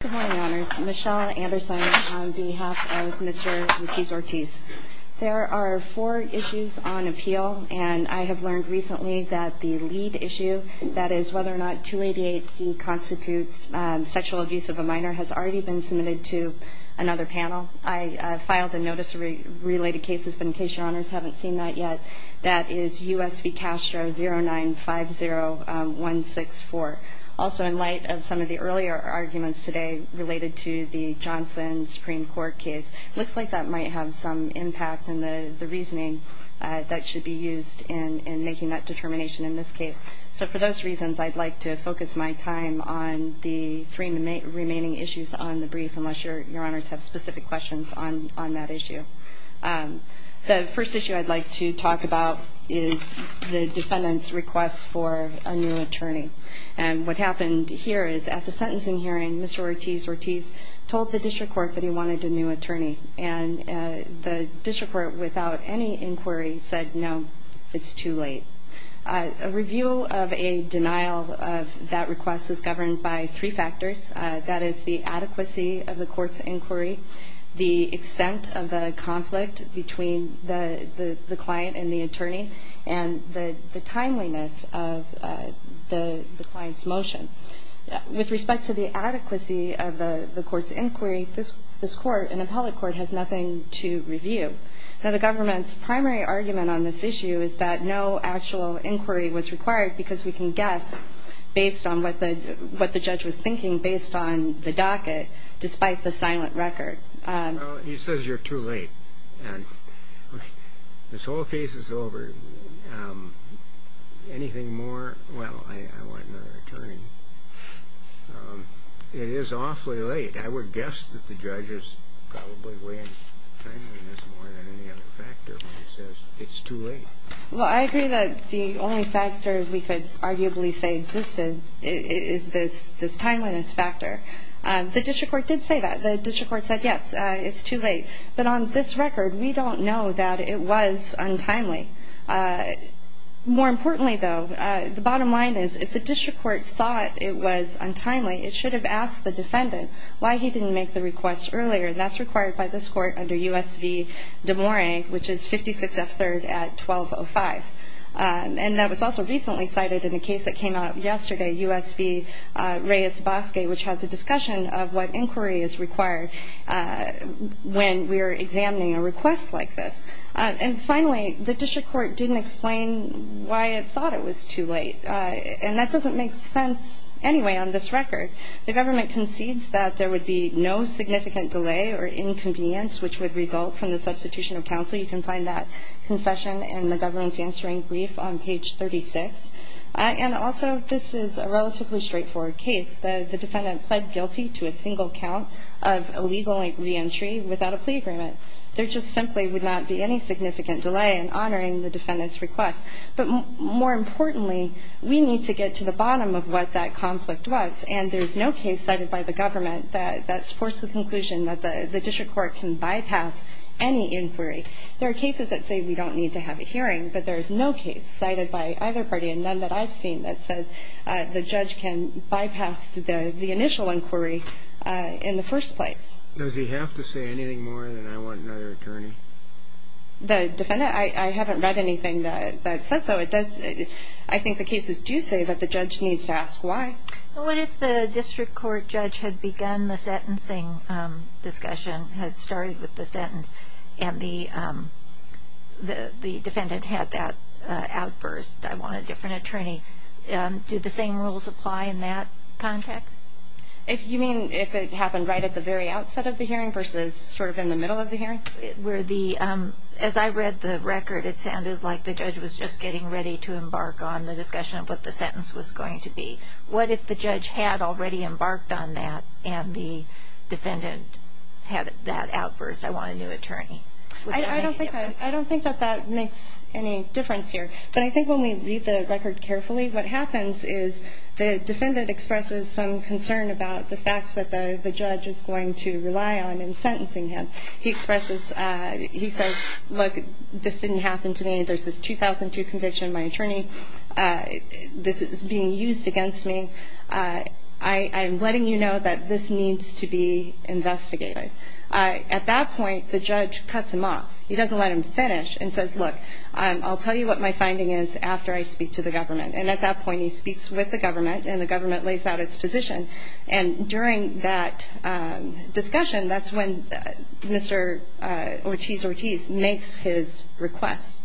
Good morning, honors. Michelle Anderson on behalf of Mr. Ortiz-Ortiz. There are four issues on appeal, and I have learned recently that the lead issue, that is whether or not 288C constitutes sexual abuse of a minor, has already been submitted to another panel. I filed a notice of related cases, but in case your honors haven't seen that yet, that is U.S. v. Castro 0950164. Also, in light of some of the earlier arguments today related to the Johnson Supreme Court case, it looks like that might have some impact in the reasoning that should be used in making that determination in this case. So for those reasons, I'd like to focus my time on the three remaining issues on the brief, unless your honors have specific questions on that issue. The first issue I'd like to talk about is the defendant's request for a new attorney. And what happened here is at the sentencing hearing, Mr. Ortiz-Ortiz told the district court that he wanted a new attorney. And the district court, without any inquiry, said no, it's too late. A review of a denial of that request is governed by three factors. That is the adequacy of the court's inquiry, the extent of the conflict between the client and the attorney, and the timeliness of the client's motion. With respect to the adequacy of the court's inquiry, this court, an appellate court, has nothing to review. Now, the government's primary argument on this issue is that no actual inquiry was required because we can guess based on what the judge was thinking based on the docket, despite the silent record. Well, he says you're too late. This whole case is over. Anything more? Well, I want another attorney. It is awfully late. I would guess that the judge is probably weighing timeliness more than any other factor when he says it's too late. Well, I agree that the only factor we could arguably say existed is this timeliness factor. The district court did say that. The district court said, yes, it's too late. But on this record, we don't know that it was untimely. More importantly, though, the bottom line is if the district court thought it was untimely, it should have asked the defendant why he didn't make the request earlier. That's required by this court under U.S. v. DeMora, which is 56F3rd at 1205. And that was also recently cited in a case that came out yesterday, U.S. v. Reyes-Basque, which has a discussion of what inquiry is required when we are examining a request like this. And finally, the district court didn't explain why it thought it was too late. And that doesn't make sense anyway on this record. The government concedes that there would be no significant delay or inconvenience, which would result from the substitution of counsel. You can find that concession in the government's answering brief on page 36. And also, this is a relatively straightforward case. The defendant pled guilty to a single count of illegal reentry without a plea agreement. There just simply would not be any significant delay in honoring the defendant's request. But more importantly, we need to get to the bottom of what that conflict was. And there's no case cited by the government that supports the conclusion that the district court can bypass any inquiry. There are cases that say we don't need to have a hearing, but there is no case cited by either party and none that I've seen that says the judge can bypass the initial inquiry in the first place. Does he have to say anything more than I want another attorney? The defendant? I haven't read anything that says so. I think the cases do say that the judge needs to ask why. What if the district court judge had begun the sentencing discussion, had started with the sentence, and the defendant had that outburst, I want a different attorney? Do the same rules apply in that context? You mean if it happened right at the very outset of the hearing versus sort of in the middle of the hearing? As I read the record, it sounded like the judge was just getting ready to embark on the discussion of what the sentence was going to be. What if the judge had already embarked on that and the defendant had that outburst, I want a new attorney? I don't think that that makes any difference here. But I think when we read the record carefully, what happens is the defendant expresses some concern about the facts that the judge is going to rely on in sentencing him. He expresses, he says, look, this didn't happen to me. There's this 2002 conviction, my attorney. This is being used against me. I am letting you know that this needs to be investigated. At that point, the judge cuts him off. He doesn't let him finish and says, look, I'll tell you what my finding is after I speak to the government. And at that point, he speaks with the government and the government lays out its position. And during that discussion, that's when Mr. Ortiz-Ortiz makes his request.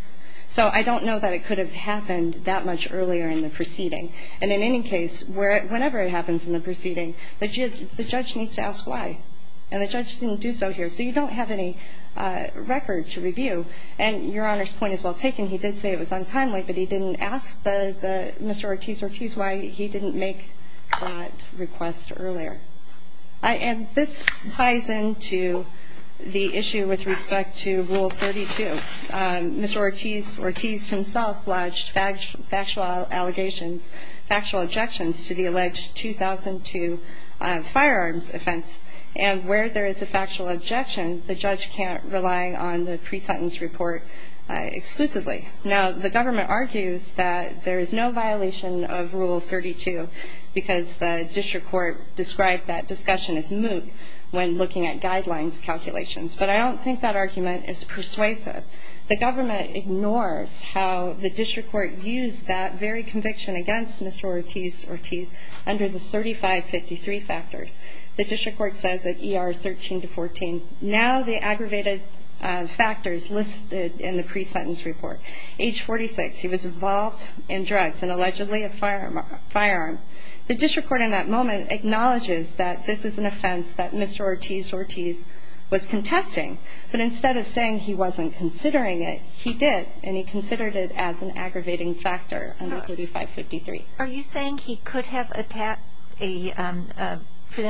So I don't know that it could have happened that much earlier in the proceeding. And in any case, whenever it happens in the proceeding, the judge needs to ask why. And the judge didn't do so here. So you don't have any record to review. And Your Honor's point is well taken. He did say it was untimely, but he didn't ask Mr. Ortiz-Ortiz why he didn't make that request earlier. And this ties into the issue with respect to Rule 32. Mr. Ortiz-Ortiz himself lodged factual allegations, factual objections to the alleged 2002 firearms offense. And where there is a factual objection, the judge can't rely on the pre-sentence report exclusively. Now, the government argues that there is no violation of Rule 32 because the district court described that discussion as moot when looking at guidelines calculations. But I don't think that argument is persuasive. The government ignores how the district court used that very conviction against Mr. Ortiz-Ortiz under the 3553 factors. The district court says that ER 13 to 14. Now the aggravated factors listed in the pre-sentence report. Age 46, he was involved in drugs and allegedly a firearm. The district court in that moment acknowledges that this is an offense that Mr. Ortiz-Ortiz was contesting. But instead of saying he wasn't considering it, he did and he considered it as an aggravating factor under 3553. Are you saying he could have presented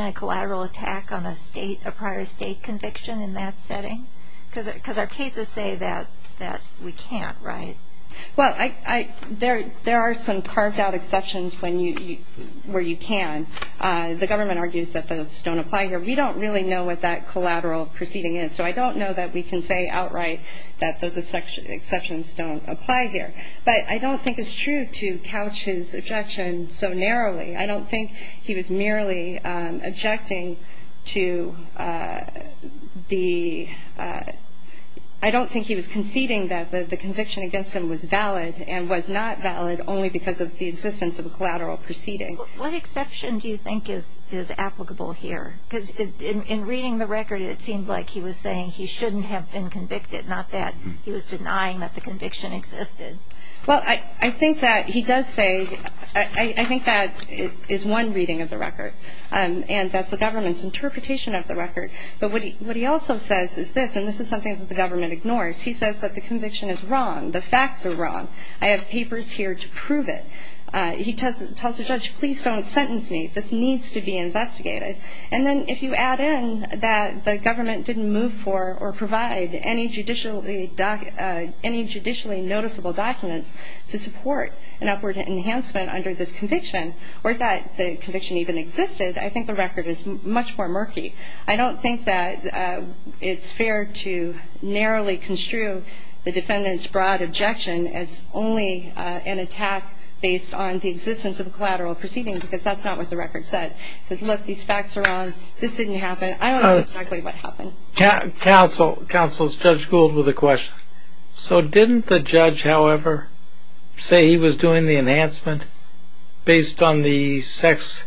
a collateral attack on a prior state conviction in that setting? Because our cases say that we can't, right? Well, there are some carved out exceptions where you can. The government argues that those don't apply here. We don't really know what that collateral proceeding is, so I don't know that we can say outright that those exceptions don't apply here. But I don't think it's true to couch his objection so narrowly. I don't think he was merely objecting to the, I don't think he was conceding that the conviction against him was valid and was not valid only because of the existence of a collateral proceeding. What exception do you think is applicable here? Because in reading the record, it seemed like he was saying he shouldn't have been convicted, not that he was denying that the conviction existed. Well, I think that he does say, I think that is one reading of the record, and that's the government's interpretation of the record. But what he also says is this, and this is something that the government ignores, he says that the conviction is wrong, the facts are wrong, I have papers here to prove it. He tells the judge, please don't sentence me, this needs to be investigated. And then if you add in that the government didn't move for or provide any judicially noticeable documents to support an upward enhancement under this conviction, or that the conviction even existed, I think the record is much more murky. I don't think that it's fair to narrowly construe the defendant's broad objection as only an attack based on the existence of a collateral proceeding, because that's not what the record says. It says, look, these facts are wrong, this didn't happen, I don't know exactly what happened. Counsel, Judge Gould with a question. So didn't the judge, however, say he was doing the enhancement based on the sex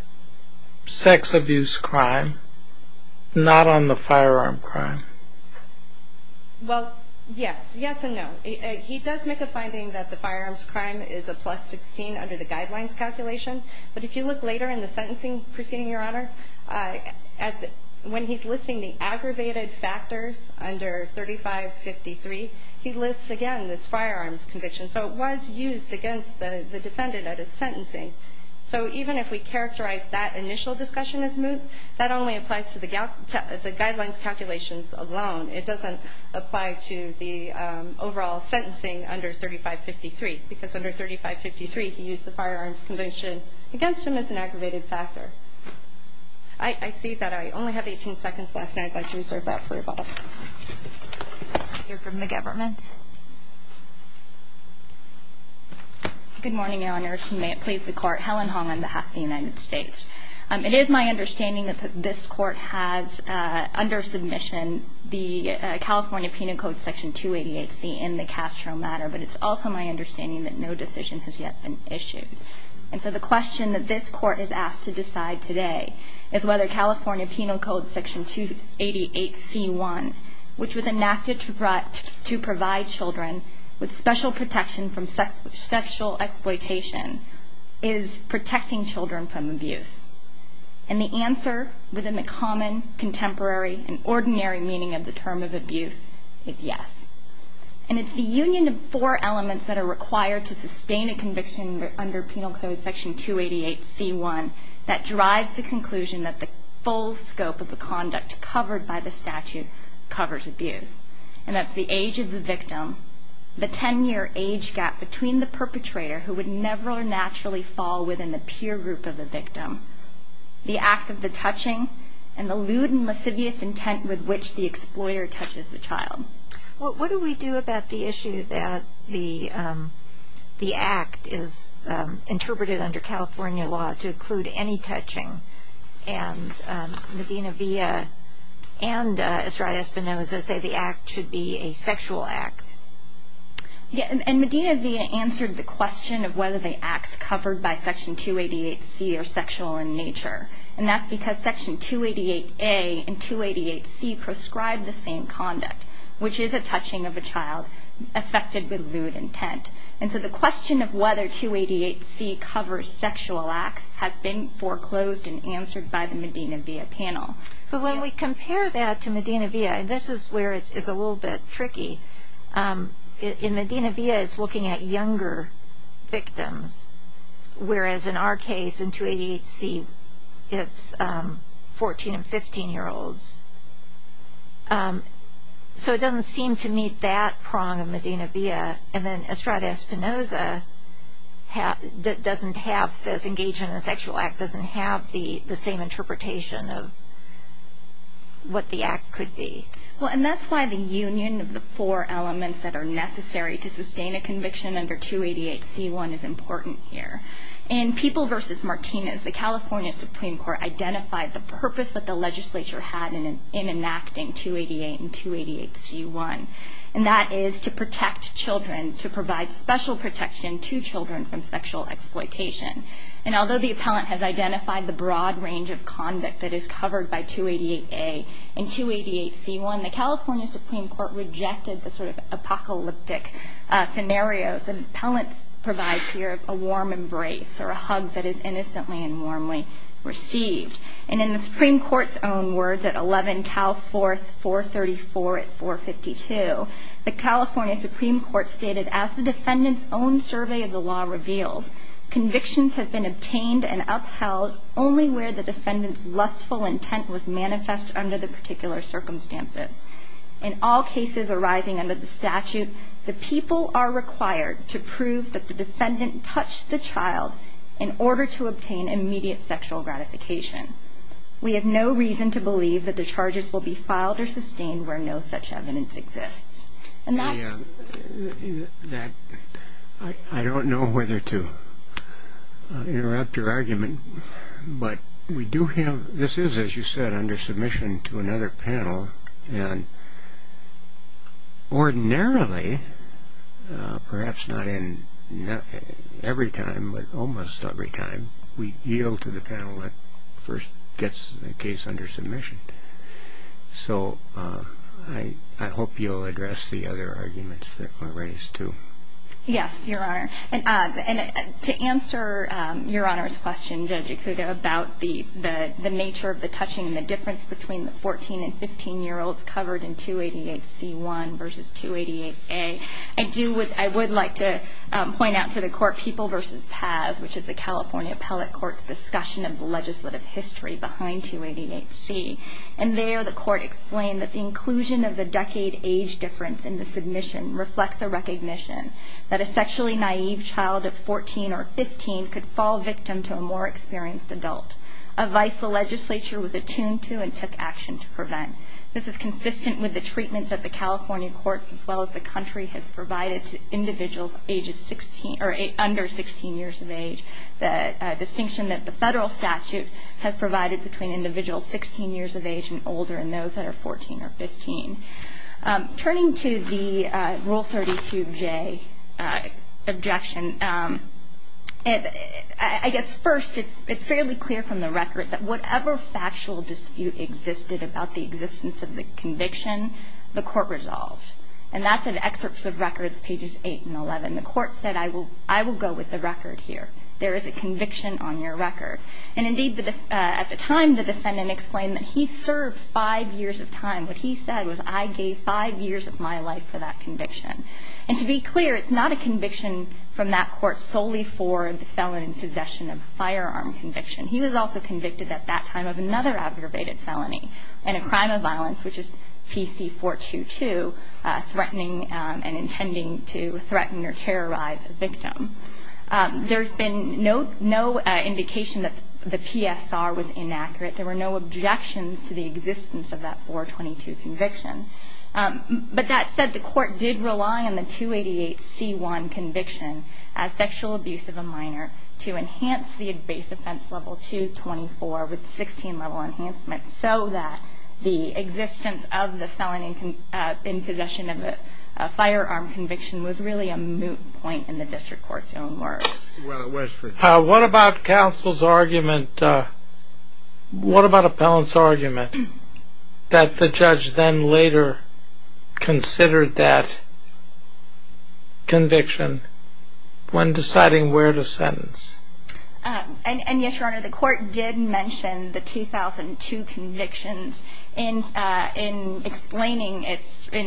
abuse crime, not on the firearm crime? Well, yes, yes and no. He does make a finding that the firearms crime is a plus 16 under the guidelines calculation, but if you look later in the sentencing proceeding, Your Honor, when he's listing the aggravated factors under 3553, he lists, again, this firearms conviction. So it was used against the defendant at his sentencing. So even if we characterize that initial discussion as moot, that only applies to the guidelines calculations alone. It doesn't apply to the overall sentencing under 3553, because under 3553 he used the firearms conviction against him as an aggravated factor. I see that. I only have 18 seconds left, and I'd like to reserve that for you, Bob. We'll hear from the government. Good morning, Your Honors. May it please the Court. Helen Hong on behalf of the United States. It is my understanding that this Court has under submission the California Penal Code Section 288C in the Castro matter, but it's also my understanding that no decision has yet been issued. And so the question that this Court is asked to decide today is whether California Penal Code Section 288C1, which was enacted to provide children with special protection from sexual exploitation, is protecting children from abuse. And the answer within the common, contemporary, and ordinary meaning of the term of abuse is yes. And it's the union of four elements that are required to sustain a conviction under Penal Code Section 288C1 that drives the conclusion that the full scope of the conduct covered by the statute covers abuse. And that's the age of the victim, the 10-year age gap between the perpetrator, who would never naturally fall within the peer group of the victim, the act of the touching, and the lewd and lascivious intent with which the exploiter touches the child. What do we do about the issue that the act is interpreted under California law to include any touching, and Medina Villa and Estrada Espinoza say the act should be a sexual act? And Medina Villa answered the question of whether the acts covered by Section 288C are sexual in nature. And that's because Section 288A and 288C prescribe the same conduct, which is a touching of a child affected with lewd intent. And so the question of whether 288C covers sexual acts has been foreclosed and answered by the Medina Villa panel. But when we compare that to Medina Villa, and this is where it's a little bit tricky, in Medina Villa it's looking at younger victims, whereas in our case, in 288C, it's 14- and 15-year-olds. So it doesn't seem to meet that prong of Medina Villa. And then Estrada Espinoza doesn't have, says engagement in a sexual act, doesn't have the same interpretation of what the act could be. Well, and that's why the union of the four elements that are necessary to sustain a conviction under 288C1 is important here. In People v. Martinez, the California Supreme Court identified the purpose that the legislature had in enacting 288 and 288C1, and that is to protect children, to provide special protection to children from sexual exploitation. And although the appellant has identified the broad range of conduct that is covered by 288A and 288C1, the California Supreme Court rejected the sort of apocalyptic scenarios. The appellant provides here a warm embrace or a hug that is innocently and warmly received. And in the Supreme Court's own words at 11 Cal 4, 434 at 452, the California Supreme Court stated, as the defendant's own survey of the law reveals, convictions have been obtained and upheld only where the defendant's lustful intent was manifest under the particular circumstances. In all cases arising under the statute, the people are required to prove that the defendant touched the child in order to obtain immediate sexual gratification. We have no reason to believe that the charges will be filed or sustained where no such evidence exists. I don't know whether to interrupt your argument, but this is, as you said, under submission to another panel, and ordinarily, perhaps not every time, but almost every time, we yield to the panel that first gets the case under submission. So I hope you'll address the other arguments that were raised, too. Yes, Your Honor, and to answer Your Honor's question, Judge Ikuda, about the nature of the touching and the difference between the 14- and 15-year-olds covered in 288C1 versus 288A, I would like to point out to the court People v. Paz, which is the California Appellate Court's discussion of the legislative history behind 288C, and there the court explained that the inclusion of the decade age difference in the submission reflects a recognition that a sexually naive child of 14 or 15 could fall victim to a more experienced adult, a vice the legislature was attuned to and took action to prevent. This is consistent with the treatment that the California courts, as well as the country, has provided to individuals under 16 years of age, the distinction that the federal statute has provided between individuals 16 years of age and older and those that are 14 or 15. Turning to the Rule 32J objection, I guess first it's fairly clear from the record that whatever factual dispute existed about the existence of the conviction, the court resolved. And that's in excerpts of records, pages 8 and 11. The court said, I will go with the record here. There is a conviction on your record. And indeed, at the time, the defendant explained that he served five years of time. What he said was, I gave five years of my life for that conviction. And to be clear, it's not a conviction from that court solely for the felon in possession of a firearm conviction. He was also convicted at that time of another aggravated felony and a crime of violence, which is PC 422, threatening and intending to threaten or terrorize a victim. There's been no indication that the PSR was inaccurate. There were no objections to the existence of that 422 conviction. But that said, the court did rely on the 288C1 conviction as sexual abuse of a minor to enhance the base offense level 224 with 16 level enhancements so that the existence of the felon in possession of a firearm conviction was really a moot point in the district court's own work. What about counsel's argument, what about a felon's argument that the judge then later considered that conviction when deciding where to sentence? And yes, Your Honor, the court did mention the 2002 convictions in explaining in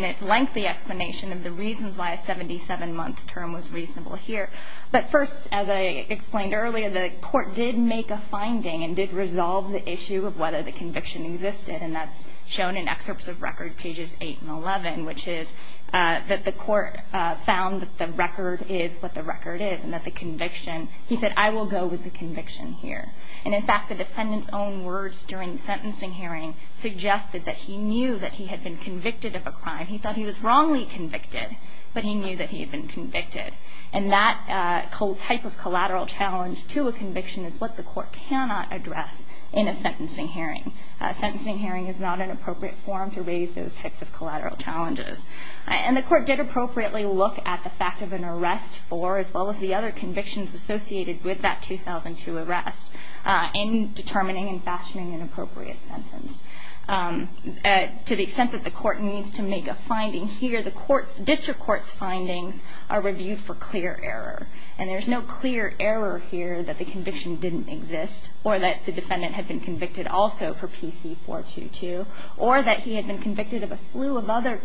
its lengthy explanation of the reasons why a 77-month term was reasonable here. But first, as I explained earlier, the court did make a finding and did resolve the issue of whether the conviction existed. And that's shown in excerpts of record pages 8 and 11, which is that the court found that the record is what the record is and that the conviction, he said, I will go with the conviction here. And in fact, the defendant's own words during the sentencing hearing suggested that he knew that he had been convicted of a crime. He thought he was wrongly convicted, but he knew that he had been convicted. And that type of collateral challenge to a conviction is what the court cannot address in a sentencing hearing. A sentencing hearing is not an appropriate forum to raise those types of collateral challenges. And the court did appropriately look at the fact of an arrest for, as well as the other convictions associated with that 2002 arrest, in determining and fashioning an appropriate sentence. To the extent that the court needs to make a finding here, the district court's findings are reviewed for clear error. And there's no clear error here that the conviction didn't exist or that the defendant had been convicted also for PC-422 or that he had been convicted of a slew of other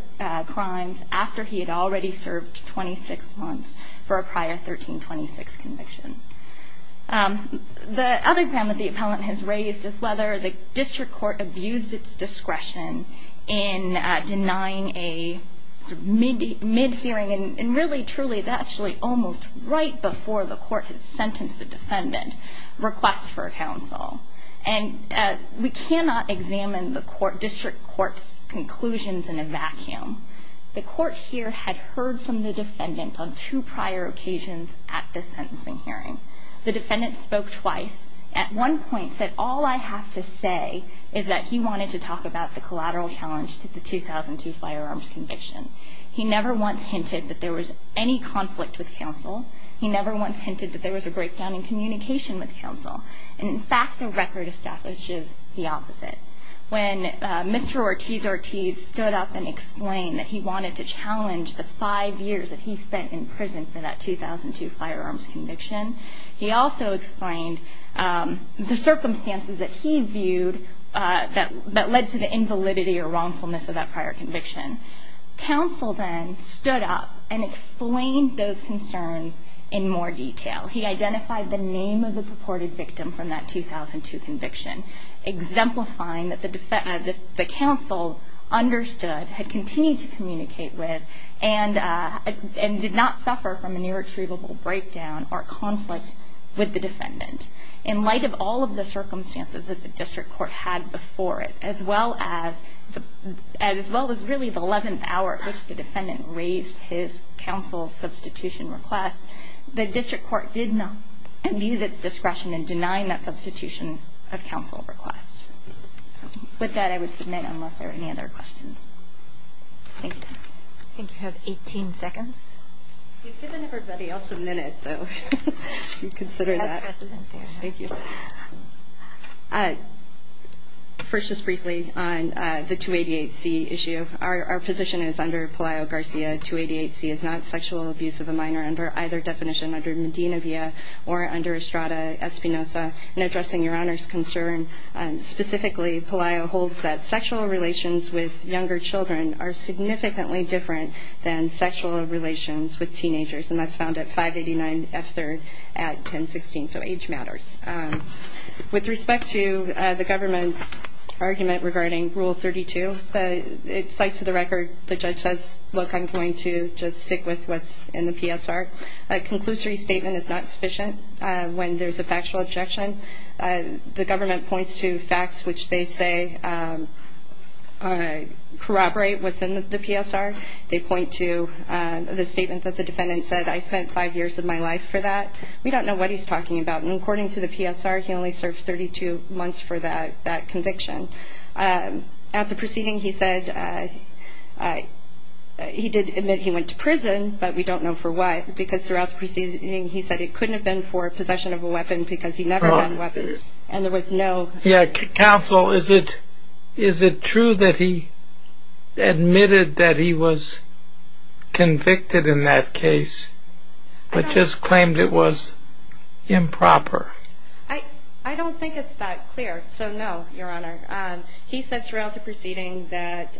crimes after he had already served 26 months for a prior 1326 conviction. The other crime that the appellant has raised is whether the district court abused its discretion in denying a mid-hearing, and really, truly, actually almost right before the court had sentenced the defendant, request for counsel. And we cannot examine the district court's conclusions in a vacuum. The court here had heard from the defendant on two prior occasions at this sentencing hearing. The defendant spoke twice. At one point said, all I have to say is that he wanted to talk about the collateral challenge to the 2002 firearms conviction. He never once hinted that there was any conflict with counsel. He never once hinted that there was a breakdown in communication with counsel. And, in fact, the record establishes the opposite. When Mr. Ortiz-Ortiz stood up and explained that he wanted to challenge the five years that he spent in prison for that 2002 firearms conviction, he also explained the circumstances that he viewed that led to the invalidity or wrongfulness of that prior conviction. Counsel then stood up and explained those concerns in more detail. He identified the name of the purported victim from that 2002 conviction, exemplifying that the counsel understood, had continued to communicate with, and did not suffer from an irretrievable breakdown or conflict with the defendant. In light of all of the circumstances that the district court had before it, as well as really the 11th hour at which the defendant raised his counsel's substitution request, the district court did not abuse its discretion in denying that substitution of counsel request. With that, I would submit unless there are any other questions. Thank you. I think you have 18 seconds. First, just briefly, on the 288C issue. Our position is under Pelayo-Garcia, 288C is not sexual abuse of a minor under either definition, under Medina-Villa or under Estrada-Espinosa. In addressing Your Honor's concern, specifically, Pelayo holds that sexual relations with younger children are significantly different than sexual relations with teenagers, and that's found at 589F3rd at 1016, so age matters. With respect to the government's argument regarding Rule 32, it cites for the record the judge says, look, I'm going to just stick with what's in the PSR. A conclusory statement is not sufficient when there's a factual objection. The government points to facts which they say corroborate what's in the PSR. They point to the statement that the defendant said, I spent five years of my life for that. We don't know what he's talking about. And according to the PSR, he only served 32 months for that conviction. At the proceeding he said, he did admit he went to prison, but we don't know for what, because throughout the proceeding he said it couldn't have been for possession of a weapon because he never had a weapon, and there was no... Counsel, is it true that he admitted that he was convicted in that case, but just claimed it was improper? I don't think it's that clear, so no, Your Honor. He said throughout the proceeding that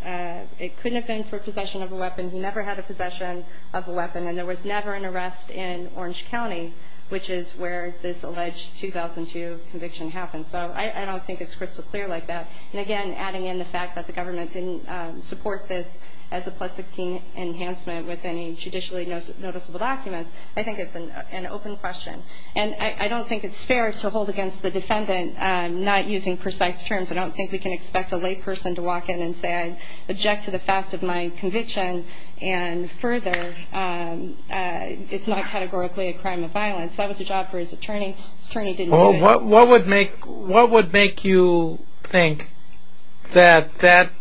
it couldn't have been for possession of a weapon. He never had a possession of a weapon, and there was never an arrest in Orange County, which is where this alleged 2002 conviction happened. So I don't think it's crystal clear like that. And again, adding in the fact that the government didn't support this as a plus-16 enhancement with any judicially noticeable documents, I think it's an open question. And I don't think it's fair to hold against the defendant not using precise terms. I don't think we can expect a layperson to walk in and say, I object to the fact of my conviction, and further, it's not categorically a crime of violence. That was the job for his attorney. His attorney didn't do it. What would make you think that that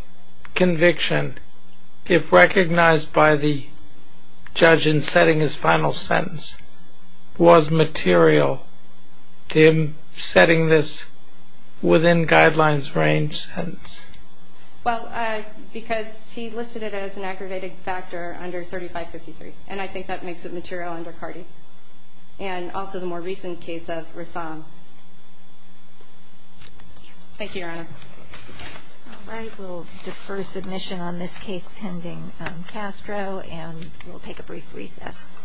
conviction, if recognized by the judge in setting his final sentence, was material to him setting this within guidelines range sentence? Well, because he listed it as an aggravated factor under 3553, and I think that makes it material under CARTI, and also the more recent case of Rassam. Thank you, Your Honor. All right. We'll defer submission on this case pending Castro, and we'll take a brief recess.